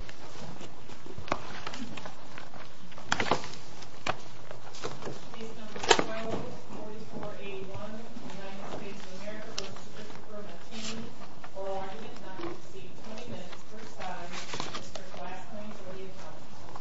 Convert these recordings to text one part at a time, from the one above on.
United States of America v. Christopher Mateen For argument not to proceed, 20 minutes per side, Mr. Glassman, will you come forward?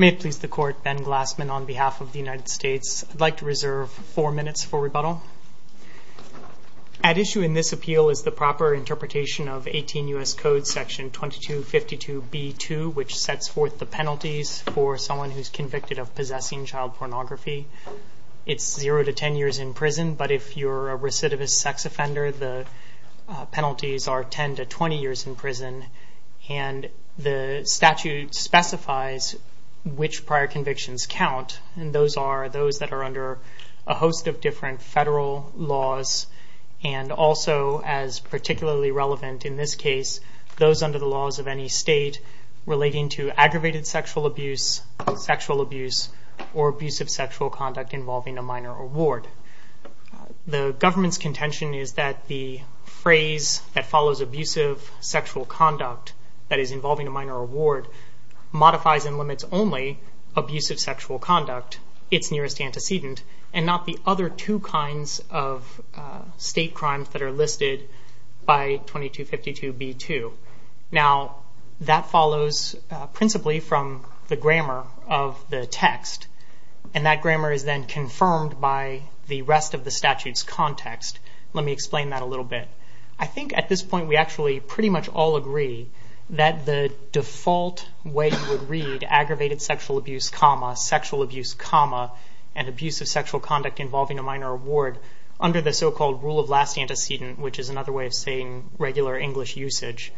May it please the Court, Ben Glassman on behalf of the United States. I'd like to reserve four minutes for rebuttal. At issue in this appeal is the proper interpretation of 18 U.S. Code section 2252b2, which sets forth the penalties for someone who's convicted of possessing child pornography. It's zero to 10 years in prison, but if you're a recidivist sex offender, the penalties are 10 to 20 years in prison. And the statute specifies which prior convictions count, and those are those that are under a host of different federal laws, and also as particularly relevant in this case, those under the laws of any state relating to aggravated sexual abuse, sexual abuse, or abusive sexual conduct involving a minor award. The government's contention is that the phrase that follows abusive sexual conduct that is involving a minor award modifies and limits only abusive sexual conduct, its nearest antecedent, and not the other two kinds of state crimes that are listed by 2252b2. Now, that follows principally from the grammar of the text, and that grammar is then confirmed by the rest of the statute's context. Let me explain that a little bit. I think at this point we actually pretty much all agree that the default way you would read aggravated sexual abuse, sexual abuse, and abusive sexual conduct involving a minor award under the so-called rule of last antecedent, which is another way of saying regular English usage,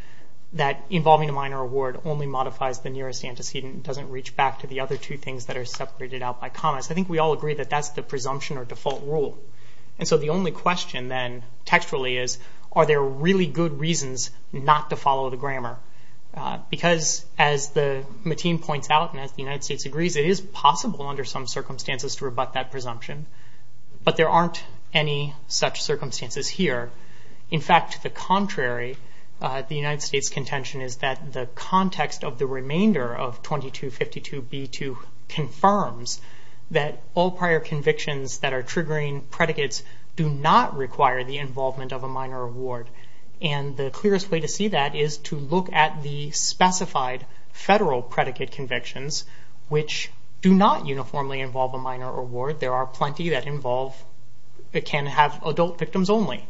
that involving a minor award only modifies the nearest antecedent and doesn't reach back to the other two things that are separated out by commas. I think we all agree that that's the presumption or default rule. And so the only question then textually is, are there really good reasons not to follow the grammar? Because as Mateen points out and as the United States agrees, it is possible under some circumstances to rebut that presumption, but there aren't any such circumstances here. In fact, the contrary, the United States' contention is that the context of the remainder of 2252b2 confirms that all prior convictions that are triggering predicates do not require the involvement of a minor award. And the clearest way to see that is to look at the specified federal predicate convictions, which do not uniformly involve a minor award. There are plenty that involve, that can have adult victims only.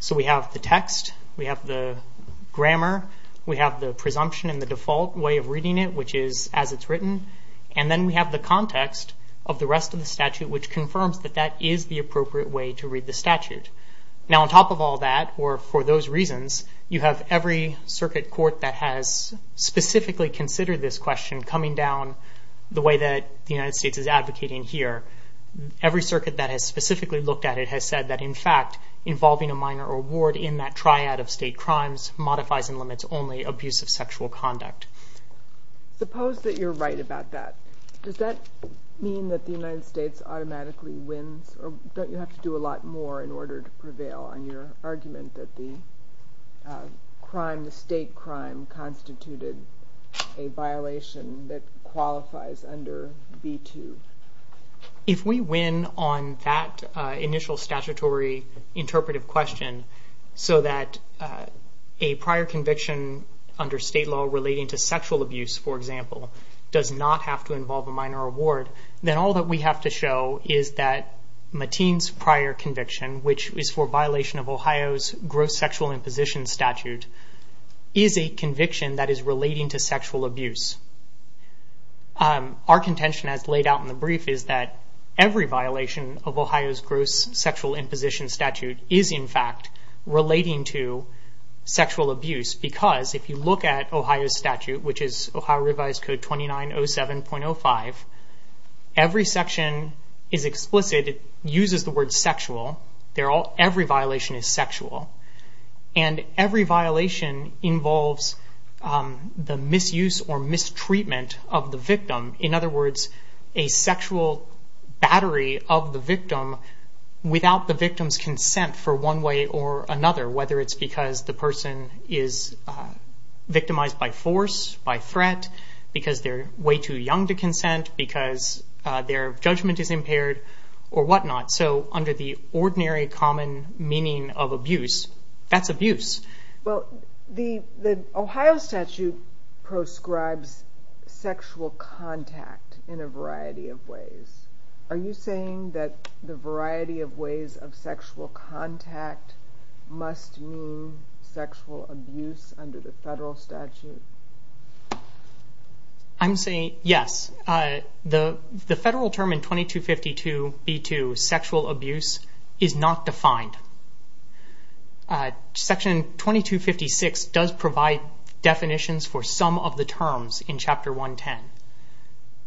So we have the text, we have the grammar, we have the presumption and the default way of reading it, which is as it's written. And then we have the context of the rest of the statute, which confirms that that is the appropriate way to read the statute. Now on top of all that, or for those reasons, you have every circuit court that has specifically considered this question coming down the way that the United States is advocating here. involving a minor award in that triad of state crimes modifies and limits only abusive sexual conduct. Suppose that you're right about that. Does that mean that the United States automatically wins, or don't you have to do a lot more in order to prevail on your argument that the crime, the state crime, constituted a violation that qualifies under B2? If we win on that initial statutory interpretive question, so that a prior conviction under state law relating to sexual abuse, for example, does not have to involve a minor award, then all that we have to show is that Mateen's prior conviction, which is for violation of Ohio's gross sexual imposition statute, is a conviction that is relating to sexual abuse. Our contention, as laid out in the brief, is that every violation of Ohio's gross sexual imposition statute is in fact relating to sexual abuse, because if you look at Ohio's statute, which is Ohio Revised Code 2907.05, every section is explicit, uses the word sexual. Every violation is sexual. And every violation involves the misuse or mistreatment of the victim. In other words, a sexual battery of the victim without the victim's consent for one way or another, whether it's because the person is victimized by force, by threat, because they're way too young to consent, because their judgment is impaired, or whatnot. So under the ordinary common meaning of abuse, that's abuse. Well, the Ohio statute proscribes sexual contact in a variety of ways. Are you saying that the variety of ways of sexual contact must mean sexual abuse under the federal statute? I'm saying yes. The federal term in 2252b2, sexual abuse, is not defined. Section 2256 does provide definitions for some of the terms in Chapter 110.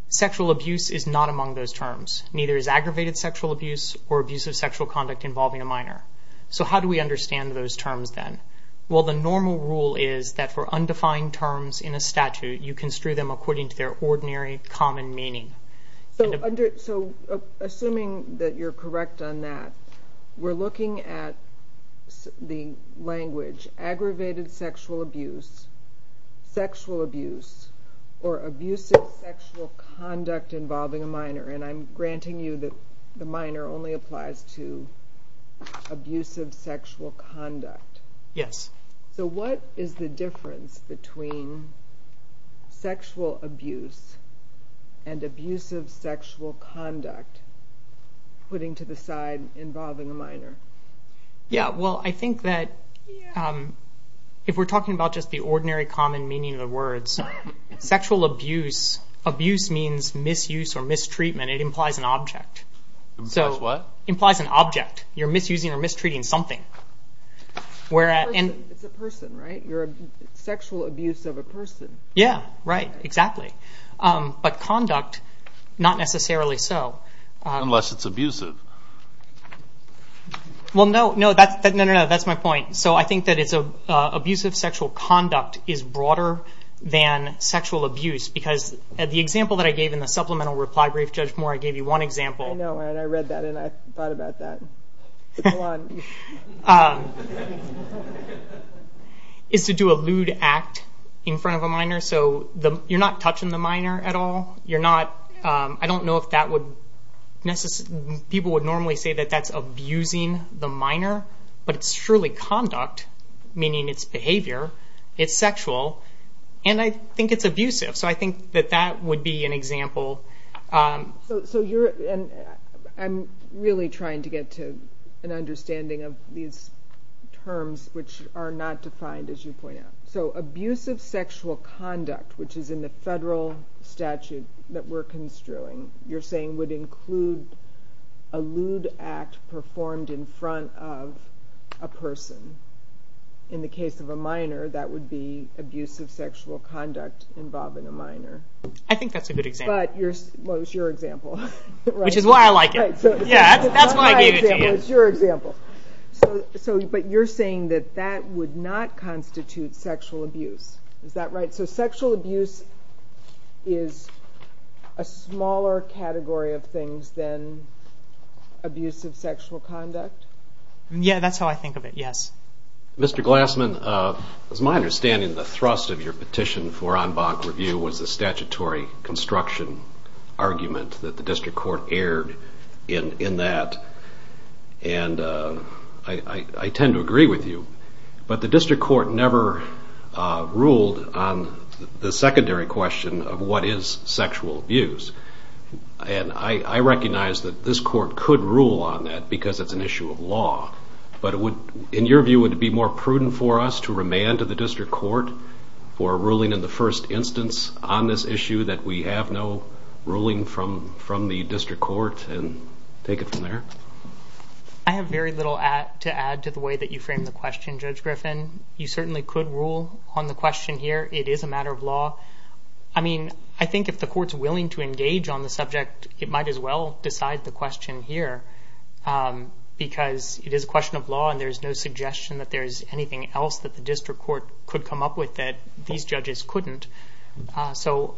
Sexual abuse is not among those terms. Neither is aggravated sexual abuse or abusive sexual conduct involving a minor. So how do we understand those terms then? Well, the normal rule is that for undefined terms in a statute, you construe them according to their ordinary common meaning. So assuming that you're correct on that, we're looking at the language aggravated sexual abuse, sexual abuse, or abusive sexual conduct involving a minor, and I'm granting you that the minor only applies to abusive sexual conduct. Yes. So what is the difference between sexual abuse and abusive sexual conduct, putting to the side involving a minor? Yeah, well, I think that if we're talking about just the ordinary common meaning of the words, sexual abuse, abuse means misuse or mistreatment. It implies an object. Implies what? Implies an object. You're misusing or mistreating something. It's a person, right? You're sexual abuse of a person. Yeah, right, exactly. But conduct, not necessarily so. Unless it's abusive. Well, no, no, that's my point. So I think that abusive sexual conduct is broader than sexual abuse because the example that I gave in the supplemental reply brief, Judge Moore, I gave you one example. I know, and I read that and I thought about that. Go on. Is to do a lewd act in front of a minor. So you're not touching the minor at all. You're not, I don't know if that would necessarily, people would normally say that that's abusing the minor, but it's surely conduct, meaning it's behavior, it's sexual, and I think it's abusive. So I think that that would be an example. So you're, and I'm really trying to get to an understanding of these terms, which are not defined, as you point out. So abusive sexual conduct, which is in the federal statute that we're construing, you're saying would include a lewd act performed in front of a person. In the case of a minor, that would be abusive sexual conduct involving a minor. I think that's a good example. Well, it's your example. Which is why I like it. Yeah, that's why I gave it to you. It's your example. But you're saying that that would not constitute sexual abuse. Is that right? So sexual abuse is a smaller category of things than abusive sexual conduct? Yeah, that's how I think of it, yes. Mr. Glassman, it's my understanding the thrust of your petition for en banc review was the statutory construction argument that the district court aired in that. And I tend to agree with you. But the district court never ruled on the secondary question of what is sexual abuse. And I recognize that this court could rule on that because it's an issue of law. But in your view, would it be more prudent for us to remand to the district court for a ruling in the first instance on this issue that we have no ruling from the district court and take it from there? I have very little to add to the way that you framed the question, Judge Griffin. You certainly could rule on the question here. It is a matter of law. I mean, I think if the court's willing to engage on the subject, it might as well decide the question here because it is a question of law and there's no suggestion that there's anything else that the district court could come up with that these judges couldn't. So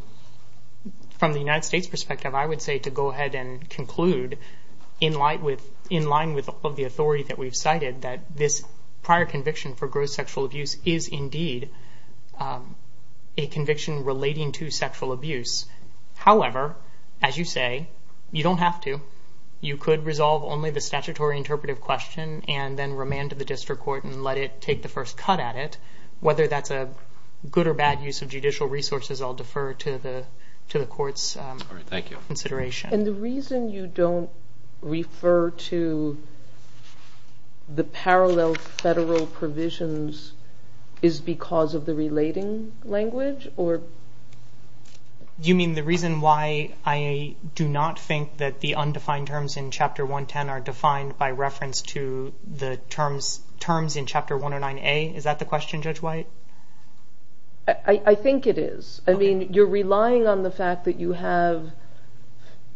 from the United States' perspective, I would say to go ahead and conclude, in line with all of the authority that we've cited, that this prior conviction for gross sexual abuse is indeed a conviction relating to sexual abuse. However, as you say, you don't have to. You could resolve only the statutory interpretive question and then remand to the district court and let it take the first cut at it. Whether that's a good or bad use of judicial resources, I'll defer to the court's consideration. And the reason you don't refer to the parallel federal provisions is because of the relating language? You mean the reason why I do not think that the undefined terms in Chapter 110 are defined by reference to the terms in Chapter 109A? Is that the question, Judge White? I think it is. You're relying on the fact that you have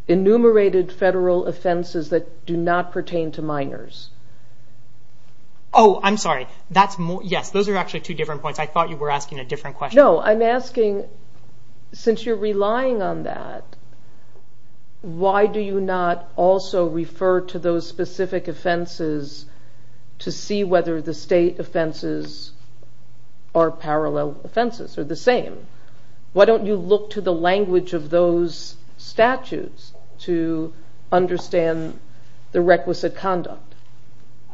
enumerated federal offenses that do not pertain to minors. Oh, I'm sorry. Yes, those are actually two different points. I thought you were asking a different question. No, I'm asking, since you're relying on that, why do you not also refer to those specific offenses to see whether the state offenses are parallel offenses or the same? Why don't you look to the language of those statutes to understand the requisite conduct?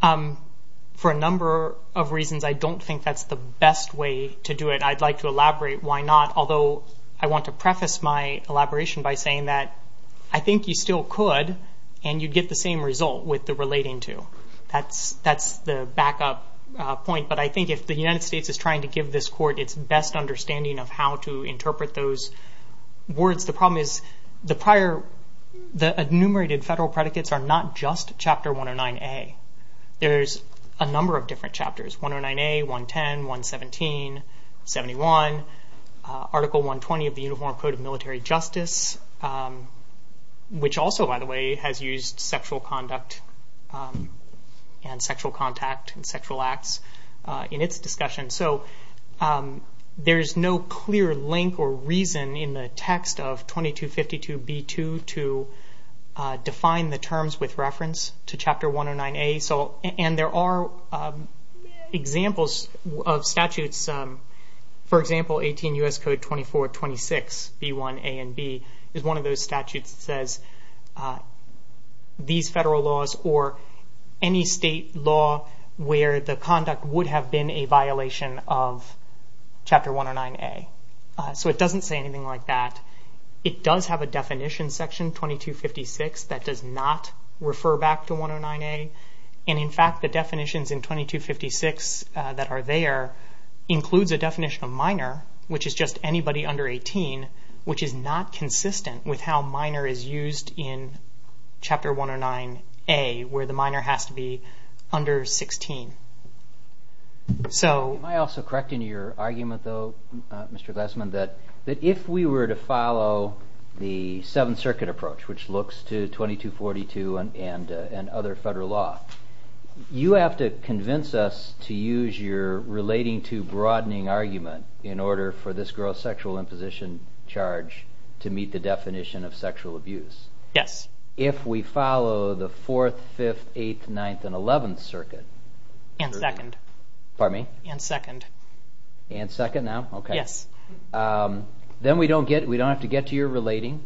For a number of reasons, I don't think that's the best way to do it. I'd like to elaborate why not, although I want to preface my elaboration by saying that I think you still could and you'd get the same result with the relating to. That's the backup point, but I think if the United States is trying to give this Court its best understanding of how to interpret those words, the problem is the enumerated federal predicates are not just Chapter 109A. There's a number of different chapters, 109A, 110, 117, 71, Article 120 of the Uniform Code of Military Justice, which also, by the way, has used sexual conduct and sexual contact and sexual acts in its discussion. There's no clear link or reason in the text of 2252b2 to define the terms with reference to Chapter 109A. There are examples of statutes. For example, 18 U.S. Code 2426b1a and b is one of those statutes that says these federal laws or any state law where the conduct would have been a violation of Chapter 109A. It doesn't say anything like that. It does have a definition section, 2256, that does not refer back to 109A. In fact, the definitions in 2256 that are there includes a definition of minor, which is just anybody under 18, which is not consistent with how minor is used in Chapter 109A where the minor has to be under 16. Am I also correct in your argument, though, Mr. Glassman, that if we were to follow the Seventh Circuit approach, which looks to 2242 and other federal law, you have to convince us to use your relating to broadening argument in order for this gross sexual imposition charge to meet the definition of sexual abuse? Yes. If we follow the Fourth, Fifth, Eighth, Ninth, and Eleventh Circuit? And second. Pardon me? And second. And second now? Yes. Then we don't have to get to your relating.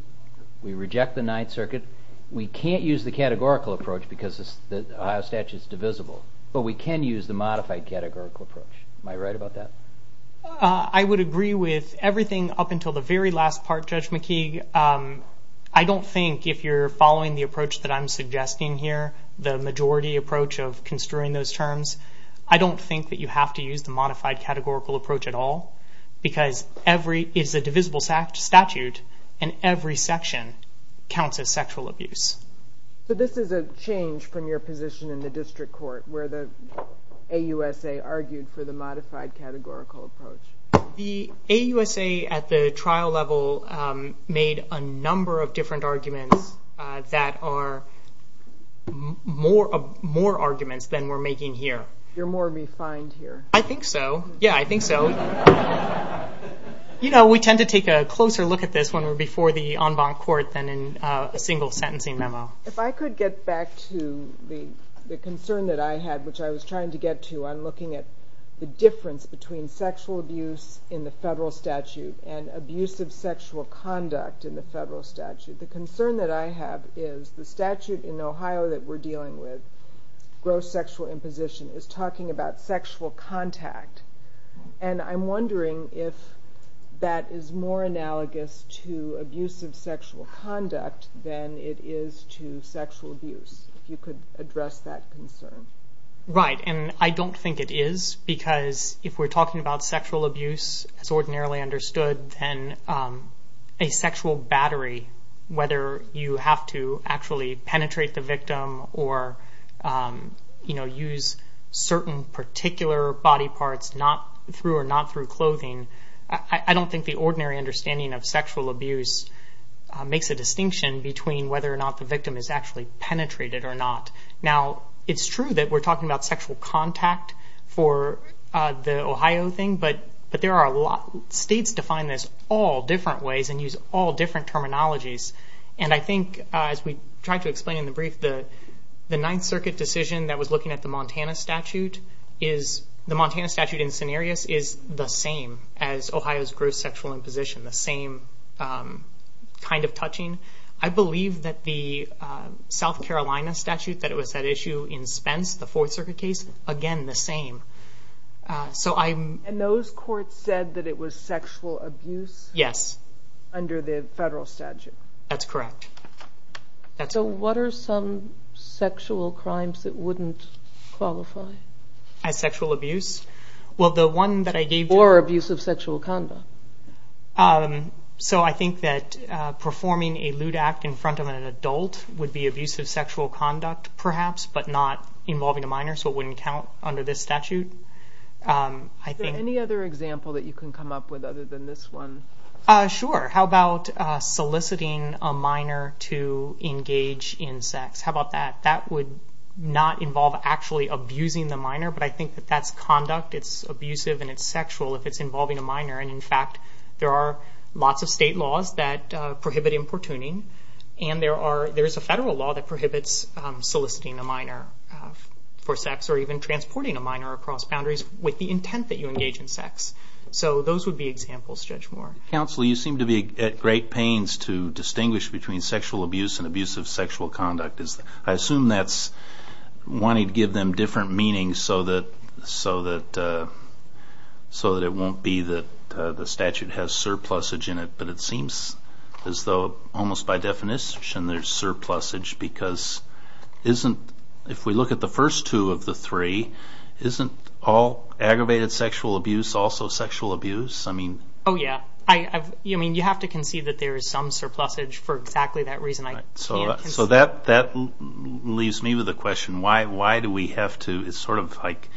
We reject the Ninth Circuit. We can't use the categorical approach because the Ohio statute is divisible, but we can use the modified categorical approach. Am I right about that? I would agree with everything up until the very last part, Judge McKeague. I don't think if you're following the approach that I'm suggesting here, the majority approach of construing those terms, I don't think that you have to use the modified categorical approach at all because it is a divisible statute, and every section counts as sexual abuse. This is a change from your position in the district court where the AUSA argued for the modified categorical approach. The AUSA at the trial level made a number of different arguments that are more arguments than we're making here. You're more refined here. I think so. Yeah, I think so. We tend to take a closer look at this when we're before the en banc court than in a single sentencing memo. If I could get back to the concern that I had, which I was trying to get to on looking at the difference between sexual abuse in the federal statute and abusive sexual conduct in the federal statute. The concern that I have is the statute in Ohio that we're dealing with, gross sexual imposition, is talking about sexual contact, and I'm wondering if that is more analogous to abusive sexual conduct than it is to sexual abuse, if you could address that concern. Right, and I don't think it is because if we're talking about sexual abuse as ordinarily understood, then a sexual battery, whether you have to actually penetrate the victim or use certain particular body parts through or not through clothing, I don't think the ordinary understanding of sexual abuse makes a distinction between whether or not the victim is actually penetrated or not. Now, it's true that we're talking about sexual contact for the Ohio thing, but states define this all different ways and use all different terminologies, and I think as we tried to explain in the brief, the Ninth Circuit decision that was looking at the Montana statute, the Montana statute in scenarios is the same as Ohio's gross sexual imposition, the same kind of touching. I believe that the South Carolina statute that was at issue in Spence, the Fourth Circuit case, again the same. And those courts said that it was sexual abuse under the federal statute? Yes, that's correct. So what are some sexual crimes that wouldn't qualify? As sexual abuse? Or abuse of sexual conduct. So I think that performing a lewd act in front of an adult so it wouldn't count under this statute. Is there any other example that you can come up with other than this one? Sure. How about soliciting a minor to engage in sex? How about that? That would not involve actually abusing the minor, but I think that that's conduct, it's abusive, and it's sexual if it's involving a minor. And in fact, there are lots of state laws that prohibit importuning, and there is a federal law that prohibits soliciting a minor for sex or even transporting a minor across boundaries with the intent that you engage in sex. So those would be examples, Judge Moore. Counsel, you seem to be at great pains to distinguish between sexual abuse and abusive sexual conduct. I assume that's wanting to give them different meanings so that it won't be that the statute has surplusage in it, but it seems as though almost by definition there's surplusage because if we look at the first two of the three, isn't all aggravated sexual abuse also sexual abuse? Oh, yeah. You have to concede that there is some surplusage for exactly that reason. So that leaves me with a question. Why do we have to sort of like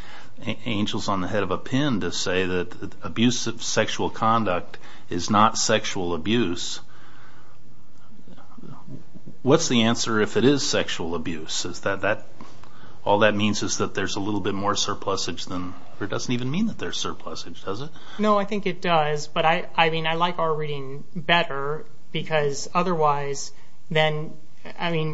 angels on the head of a pin to say that abusive sexual conduct is not sexual abuse? What's the answer if it is sexual abuse? All that means is that there's a little bit more surplusage than or it doesn't even mean that there's surplusage, does it? No, I think it does. But I mean, I like our reading better because otherwise then, I mean, if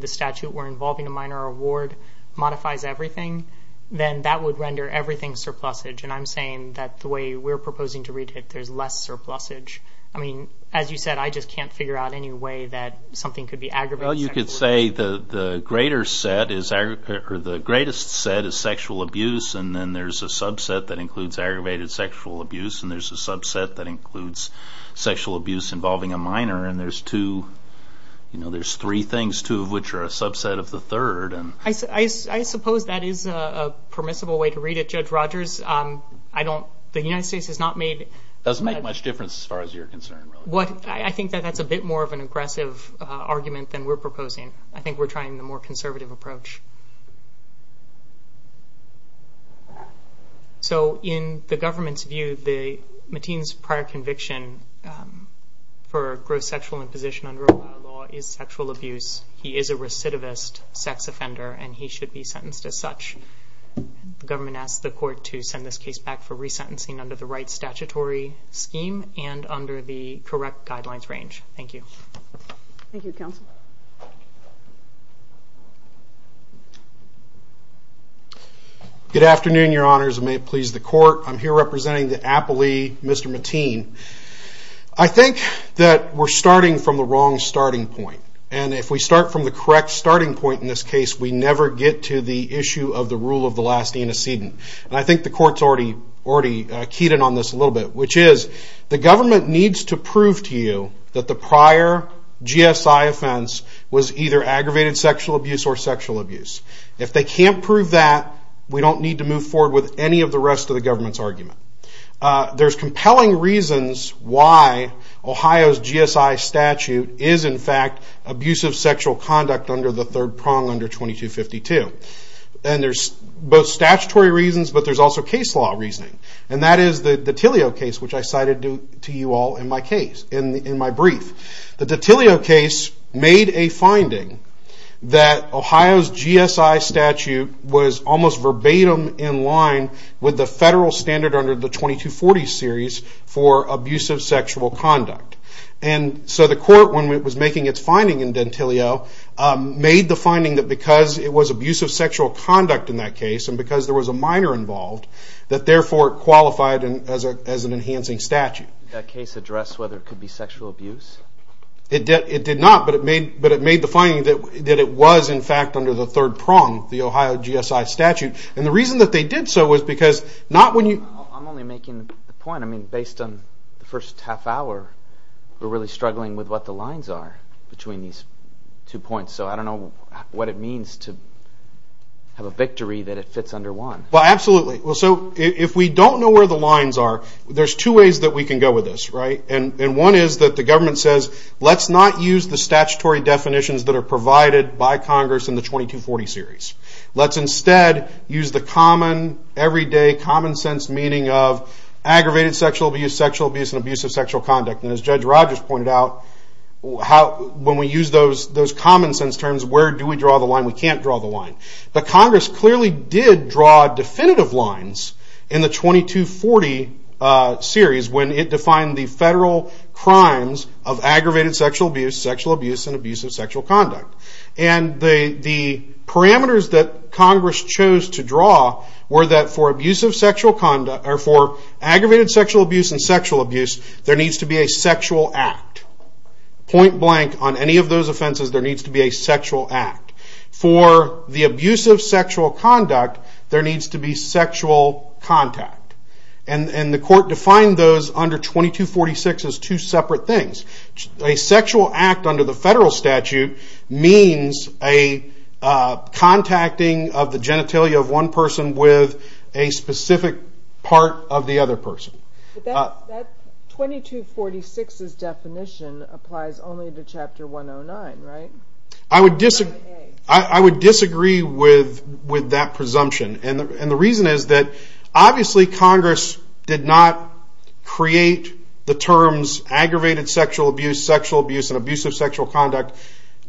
the statute were involving a minor or a ward modifies everything, then that would render everything surplusage. And I'm saying that the way we're proposing to read it, there's less surplusage. I mean, as you said, I just can't figure out any way that something could be aggravated sexual abuse. Well, you could say the greatest set is sexual abuse and then there's a subset that includes aggravated sexual abuse and there's a subset that includes sexual abuse involving a minor and there's two, you know, there's three things, two of which are a subset of the third. I suppose that is a permissible way to read it, Judge Rogers. The United States has not made... It doesn't make much difference as far as you're concerned. I think that that's a bit more of an aggressive argument than we're proposing. I think we're trying the more conservative approach. So in the government's view, the Mateen's prior conviction for gross sexual imposition under Ohio law is sexual abuse. He is a recidivist sex offender and he should be sentenced as such. The government asked the court to send this case back for resentencing under the right statutory scheme and under the correct guidelines range. Thank you. Thank you, counsel. Good afternoon, your honors. May it please the court. I'm here representing the appellee, Mr. Mateen. I think that we're starting from the wrong starting point and if we start from the correct starting point in this case, we never get to the issue of the rule of the last inocent. And I think the court's already keyed in on this a little bit, which is the government needs to prove to you that the prior GSI offense was either aggravated sexual abuse or sexual abuse. If they can't prove that, we don't need to move forward with any of the rest of the government's argument. There's compelling reasons why Ohio's GSI statute is, in fact, abusive sexual conduct under the third prong under 2252. And there's both statutory reasons, but there's also case law reasoning. And that is the Tillio case, which I cited to you all in my brief. The Tillio case made a finding that Ohio's GSI statute was almost verbatim in line with the federal standard under the 2240 series for abusive sexual conduct. And so the court, when it was making its finding in Dentillio, made the finding that because it was abusive sexual conduct in that case and because there was a minor involved, that therefore it qualified as an enhancing statute. Did that case address whether it could be sexual abuse? It did not, but it made the finding that it was, in fact, under the third prong, the Ohio GSI statute. And the reason that they did so was because not when you... I'm only making the point. I mean, based on the first half hour, we're really struggling with what the lines are between these two points. So I don't know what it means to have a victory that it fits under one. Well, absolutely. So if we don't know where the lines are, there's two ways that we can go with this, right? And one is that the government says, let's not use the statutory definitions that are provided by Congress in the 2240 series. Let's instead use the common, everyday, common-sense meaning of aggravated sexual abuse, sexual abuse, and abusive sexual conduct. And as Judge Rogers pointed out, when we use those common-sense terms, where do we draw the line? We can't draw the line. But Congress clearly did draw definitive lines in the 2240 series when it defined the federal crimes of aggravated sexual abuse, sexual abuse, and abusive sexual conduct. And the parameters that Congress chose to draw were that for aggravated sexual abuse and sexual abuse, there needs to be a sexual act. Point blank, on any of those offenses, there needs to be a sexual act. For the abusive sexual conduct, there needs to be sexual contact. And the court defined those under 2246 as two separate things. A sexual act under the federal statute means a contacting of the genitalia of one person with a specific part of the other person. But that 2246's definition applies only to Chapter 109, right? I would disagree with that presumption. And the reason is that obviously Congress did not create the terms aggravated sexual abuse, sexual abuse, and abusive sexual conduct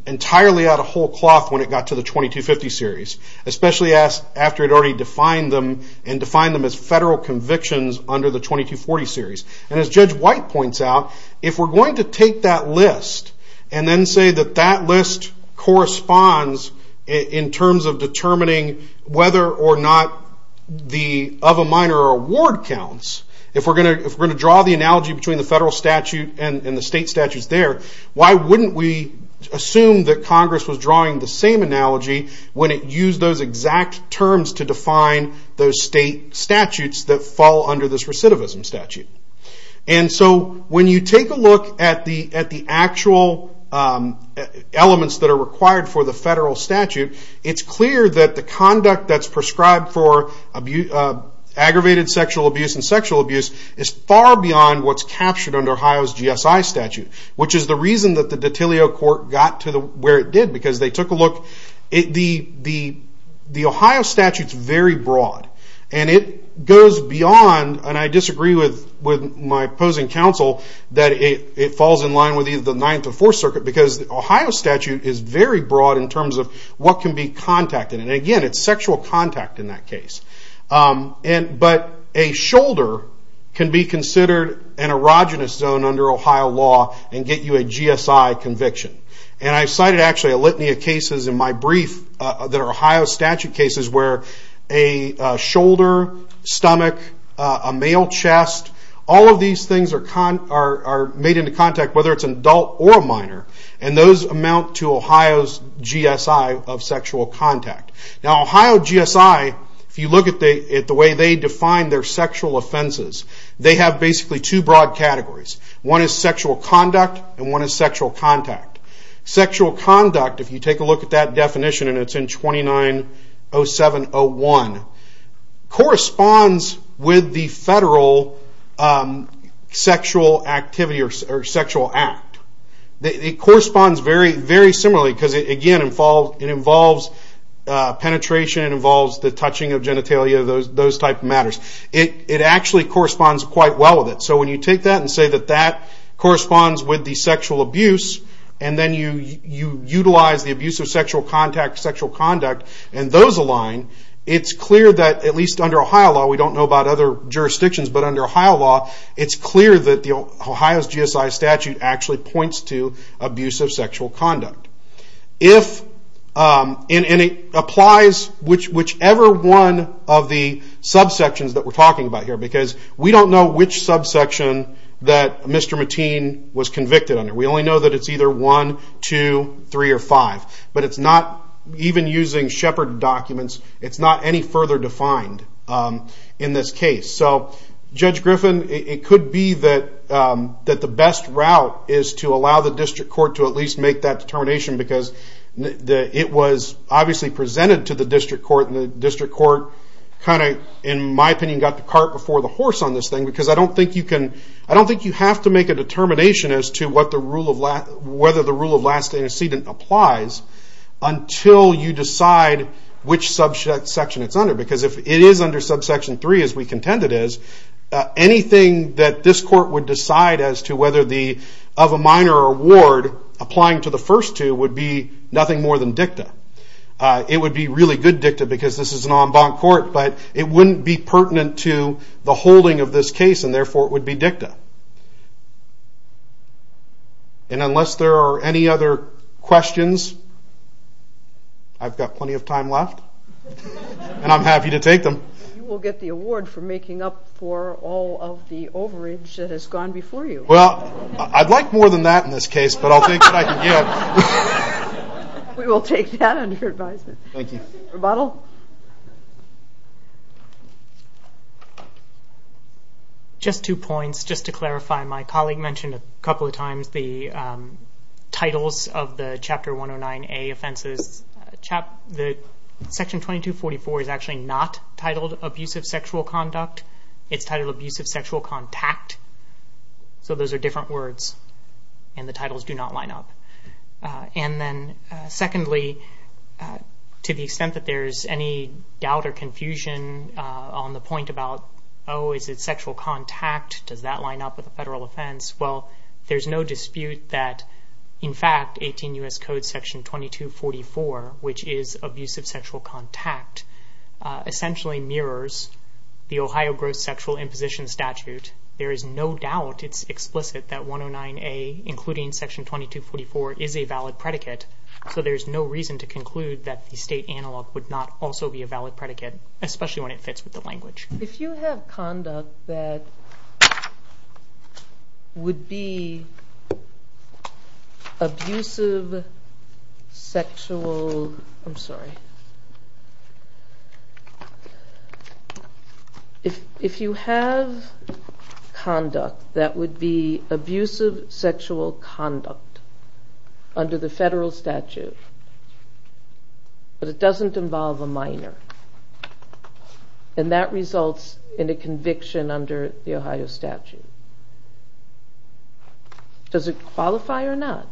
entirely out of whole cloth when it got to the 2250 series. Especially after it already defined them and defined them as federal convictions under the 2240 series. And as Judge White points out, if we're going to take that list and then say that that list corresponds in terms of determining whether or not the of a minor award counts, if we're going to draw the analogy between the federal statute and the state statutes there, why wouldn't we assume that Congress was drawing the same analogy when it used those exact terms to define those state statutes that fall under this recidivism statute? And so when you take a look at the actual elements that are required for the federal statute, it's clear that the conduct that's prescribed for aggravated sexual abuse and sexual abuse is far beyond what's captured under Ohio's GSI statute. Which is the reason that the Dottilio Court got to where it did because they took a look. The Ohio statute's very broad. And it goes beyond, and I disagree with my opposing counsel, that it falls in line with either the Ninth or Fourth Circuit because the Ohio statute is very broad in terms of what can be contacted. And again, it's sexual contact in that case. But a shoulder can be considered an erogenous zone under Ohio law and get you a GSI conviction. And I cited actually a litany of cases in my brief that are Ohio statute cases where a shoulder, stomach, a male chest, all of these things are made into contact whether it's an adult or a minor. And those amount to Ohio's GSI of sexual contact. Now Ohio GSI, if you look at the way they define their sexual offenses, they have basically two broad categories. One is sexual conduct and one is sexual contact. Sexual conduct, if you take a look at that definition and it's in 290701, corresponds with the federal sexual act. It corresponds very similarly because it involves penetration, it involves the touching of genitalia, those type of matters. It actually corresponds quite well with it. So when you take that and say that that corresponds with the sexual abuse and then you utilize the abuse of sexual contact, sexual conduct, and those align, it's clear that at least under Ohio law, we don't know about other jurisdictions, but under Ohio law it's clear that Ohio's GSI statute actually points to abuse of sexual conduct. And it applies whichever one of the subsections that we're talking about here because we don't know which subsection that Mr. Mateen was convicted under. We only know that it's either 1, 2, 3, or 5. But it's not, even using Shepard documents, it's not any further defined in this case. So Judge Griffin, it could be that the best route is to allow the district court to at least make that determination because it was obviously presented to the district court and the district court kind of, in my opinion, got the cart before the horse on this thing because I don't think you have to make a determination as to whether the rule of last intercedent applies until you decide which subsection it's under because if it is under subsection 3, as we contend it is, anything that this court would decide as to whether of a minor or a ward, applying to the first two would be nothing more than dicta. It would be really good dicta because this is an en banc court, but it wouldn't be pertinent to the holding of this case and therefore it would be dicta. And unless there are any other questions, I've got plenty of time left. And I'm happy to take them. You will get the award for making up for all of the overage that has gone before you. Well, I'd like more than that in this case, but I'll take what I can get. We will take that under advisement. Thank you. Just two points. Just to clarify, my colleague mentioned a couple of times the titles of the Chapter 109A offenses. Section 2244 is actually not titled Abusive Sexual Conduct. It's titled Abusive Sexual Contact. So those are different words. And the titles do not line up. And then secondly, to the extent that there's any doubt or confusion on the point about, oh, is it sexual contact? Does that line up with a federal offense? Well, there's no dispute that, in fact, 18 U.S. Code Section 2244, which is Abusive Sexual Contact, essentially mirrors the Ohio Gross Sexual Imposition Statute. There is no doubt, it's explicit, that 109A, including Section 2244, is a valid predicate. So there's no reason to conclude that the state analog would not also be a valid predicate, especially when it fits with the language. If you have conduct that would be abusive sexual... I'm sorry. If you have conduct that would be abusive sexual conduct under the federal statute, but it doesn't involve a minor, then that results in a conviction under the Ohio statute. Does it qualify or not?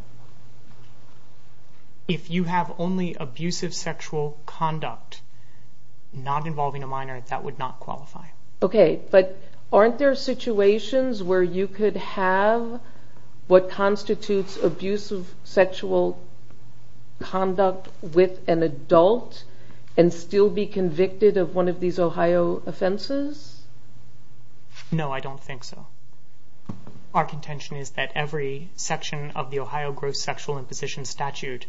If you have only abusive sexual conduct not involving a minor, that would not qualify. Okay. But aren't there situations where you could have what constitutes abusive sexual conduct with an adult and still be convicted of one of these Ohio offenses? No, I don't think so. Our contention is that every section of the Ohio Gross Sexual Imposition Statute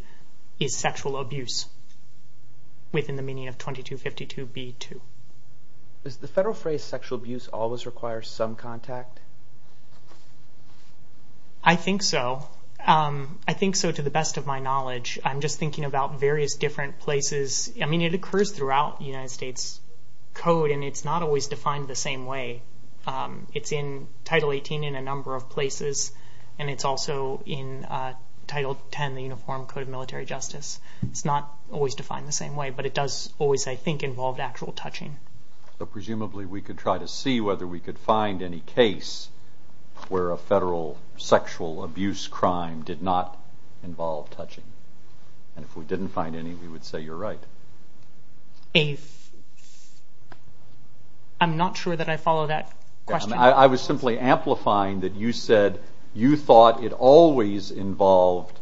is sexual abuse within the meaning of 2252b2. Does the federal phrase sexual abuse always require some contact? I think so. I think so to the best of my knowledge. I'm just thinking about various different places. It occurs throughout the United States Code and it's not always defined the same way. It's in Title 18 in a number of places and it's also in Title 10 in the Uniform Code of Military Justice. It's not always defined the same way, but it does always, I think, involve actual touching. So presumably we could try to see whether we could find any case where a federal sexual abuse crime did not involve touching. And if we didn't find any, we would say you're right. I'm not sure that I follow that question. I was simply amplifying that you said you thought it always involved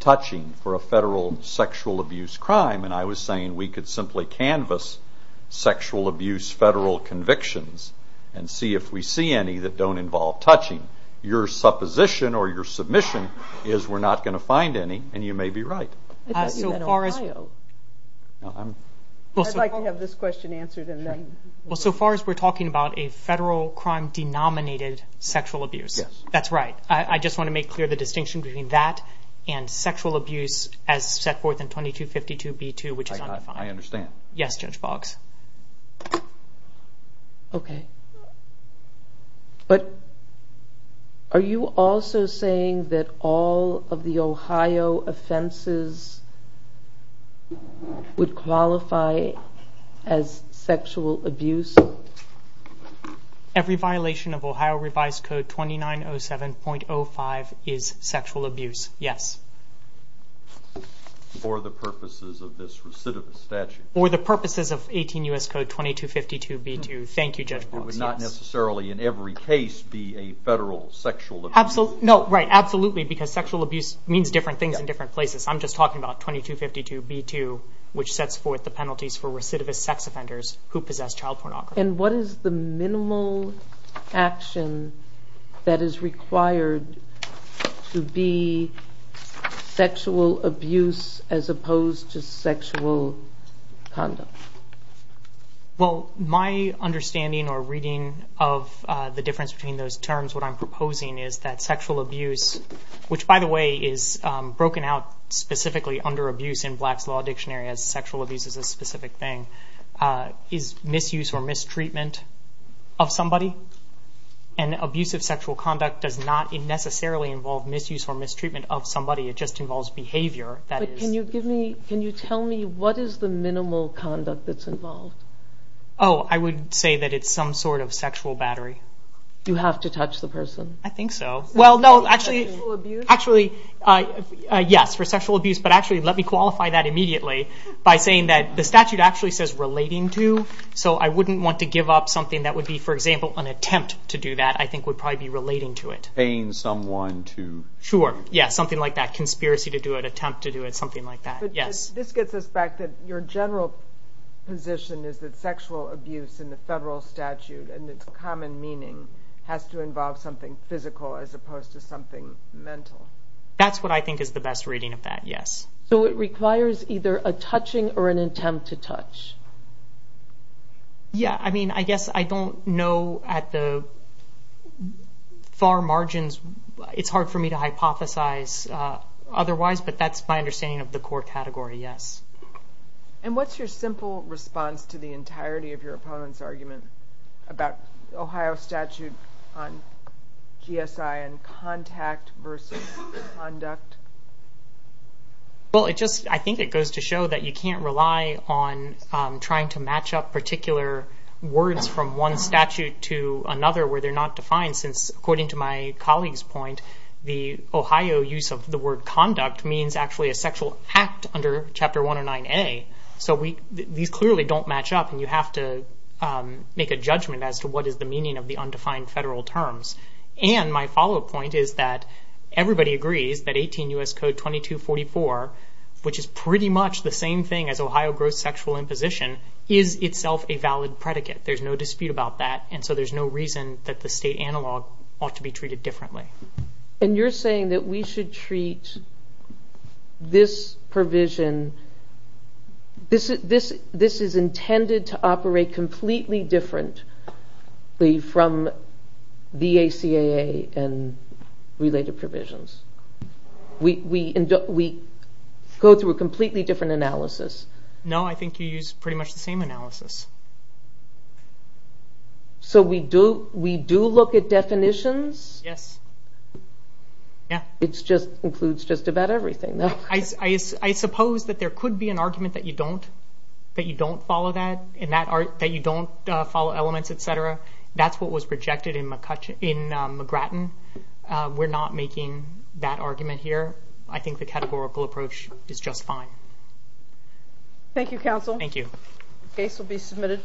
touching for a federal sexual abuse crime and I was saying we could simply canvas sexual abuse federal convictions and see if we see any that don't involve touching. Your supposition or your submission is we're not going to find any and you may be right. I thought you meant Ohio. I'd like to have this question answered and then... So far as we're talking about a federal crime denominated sexual abuse, that's right. I just want to make clear the distinction between that and sexual abuse as set forth in 2252b2, which is undefined. I understand. Are you also saying that all of the Ohio offenses would qualify as sexual abuse? Every violation of Ohio revised code 2907.05 is sexual abuse. Yes. For the purposes of this recidivist statute. For the purposes of 18 U.S. Code 2252b2. Thank you, Judge Brooks. Not necessarily in every case be a federal sexual abuse. Absolutely, because sexual abuse means different things in different places. I'm just talking about 2252b2, which sets forth the penalties for recidivist sex offenders who possess child pornography. What is the minimal action that is required to be sexual abuse as opposed to sexual conduct? Well, my understanding or reading of the difference between those terms, what I'm proposing is that sexual abuse, which, by the way, is broken out specifically under abuse in Black's Law Dictionary as sexual abuse is a specific thing, is misuse or mistreatment of somebody. And abusive sexual conduct does not necessarily involve misuse or mistreatment of somebody. It just involves behavior. Can you tell me what is the minimal conduct that's involved? Oh, I would say that it's some sort of sexual battery. You have to touch the person? I think so. Actually, yes, for sexual abuse. But actually, let me qualify that immediately by saying that the statute actually says relating to, so I wouldn't want to give up something that would be, for example, an attempt to do that I think would probably be relating to it. Paying someone to... Sure, yes, something like that. Conspiracy to do it, attempt to do it, something like that. This gets us back to your general position is that sexual abuse in the federal statute and its common meaning has to involve something physical as opposed to something mental. That's what I think is the best reading of that, yes. So it requires either a touching or an attempt to touch? Yeah, I mean, I guess I don't know at the far margins. It's hard for me to hypothesize otherwise but that's my understanding of the core category, yes. And what's your simple response to the entirety of your opponent's argument about Ohio statute on GSI and contact versus conduct? Well, I think it goes to show that you can't rely on trying to match up particular words from one statute to another where they're not defined since according to my colleague's point the Ohio use of the word conduct means actually a sexual act under Chapter 109A. So these clearly don't match up and you have to make a judgment as to what is the meaning of the undefined federal terms. And my follow-up point is that everybody agrees that 18 U.S. Code 2244 which is pretty much the same thing as Ohio gross sexual imposition is itself a valid predicate. There's no dispute about that and so there's no reason that the state analog ought to be treated differently. And you're saying that we should treat this provision this is intended to operate completely differently from the ACAA and related provisions. We go through a completely different analysis. No, I think you use pretty much the same analysis. So we do look at definitions? Yes. It includes just about everything. I suppose that there could be an argument that you don't follow that, that you don't follow elements, etc. That's what was projected in McGrattan. We're not making that argument here. I think the categorical approach is just fine. Thank you, counsel. Case will be submitted.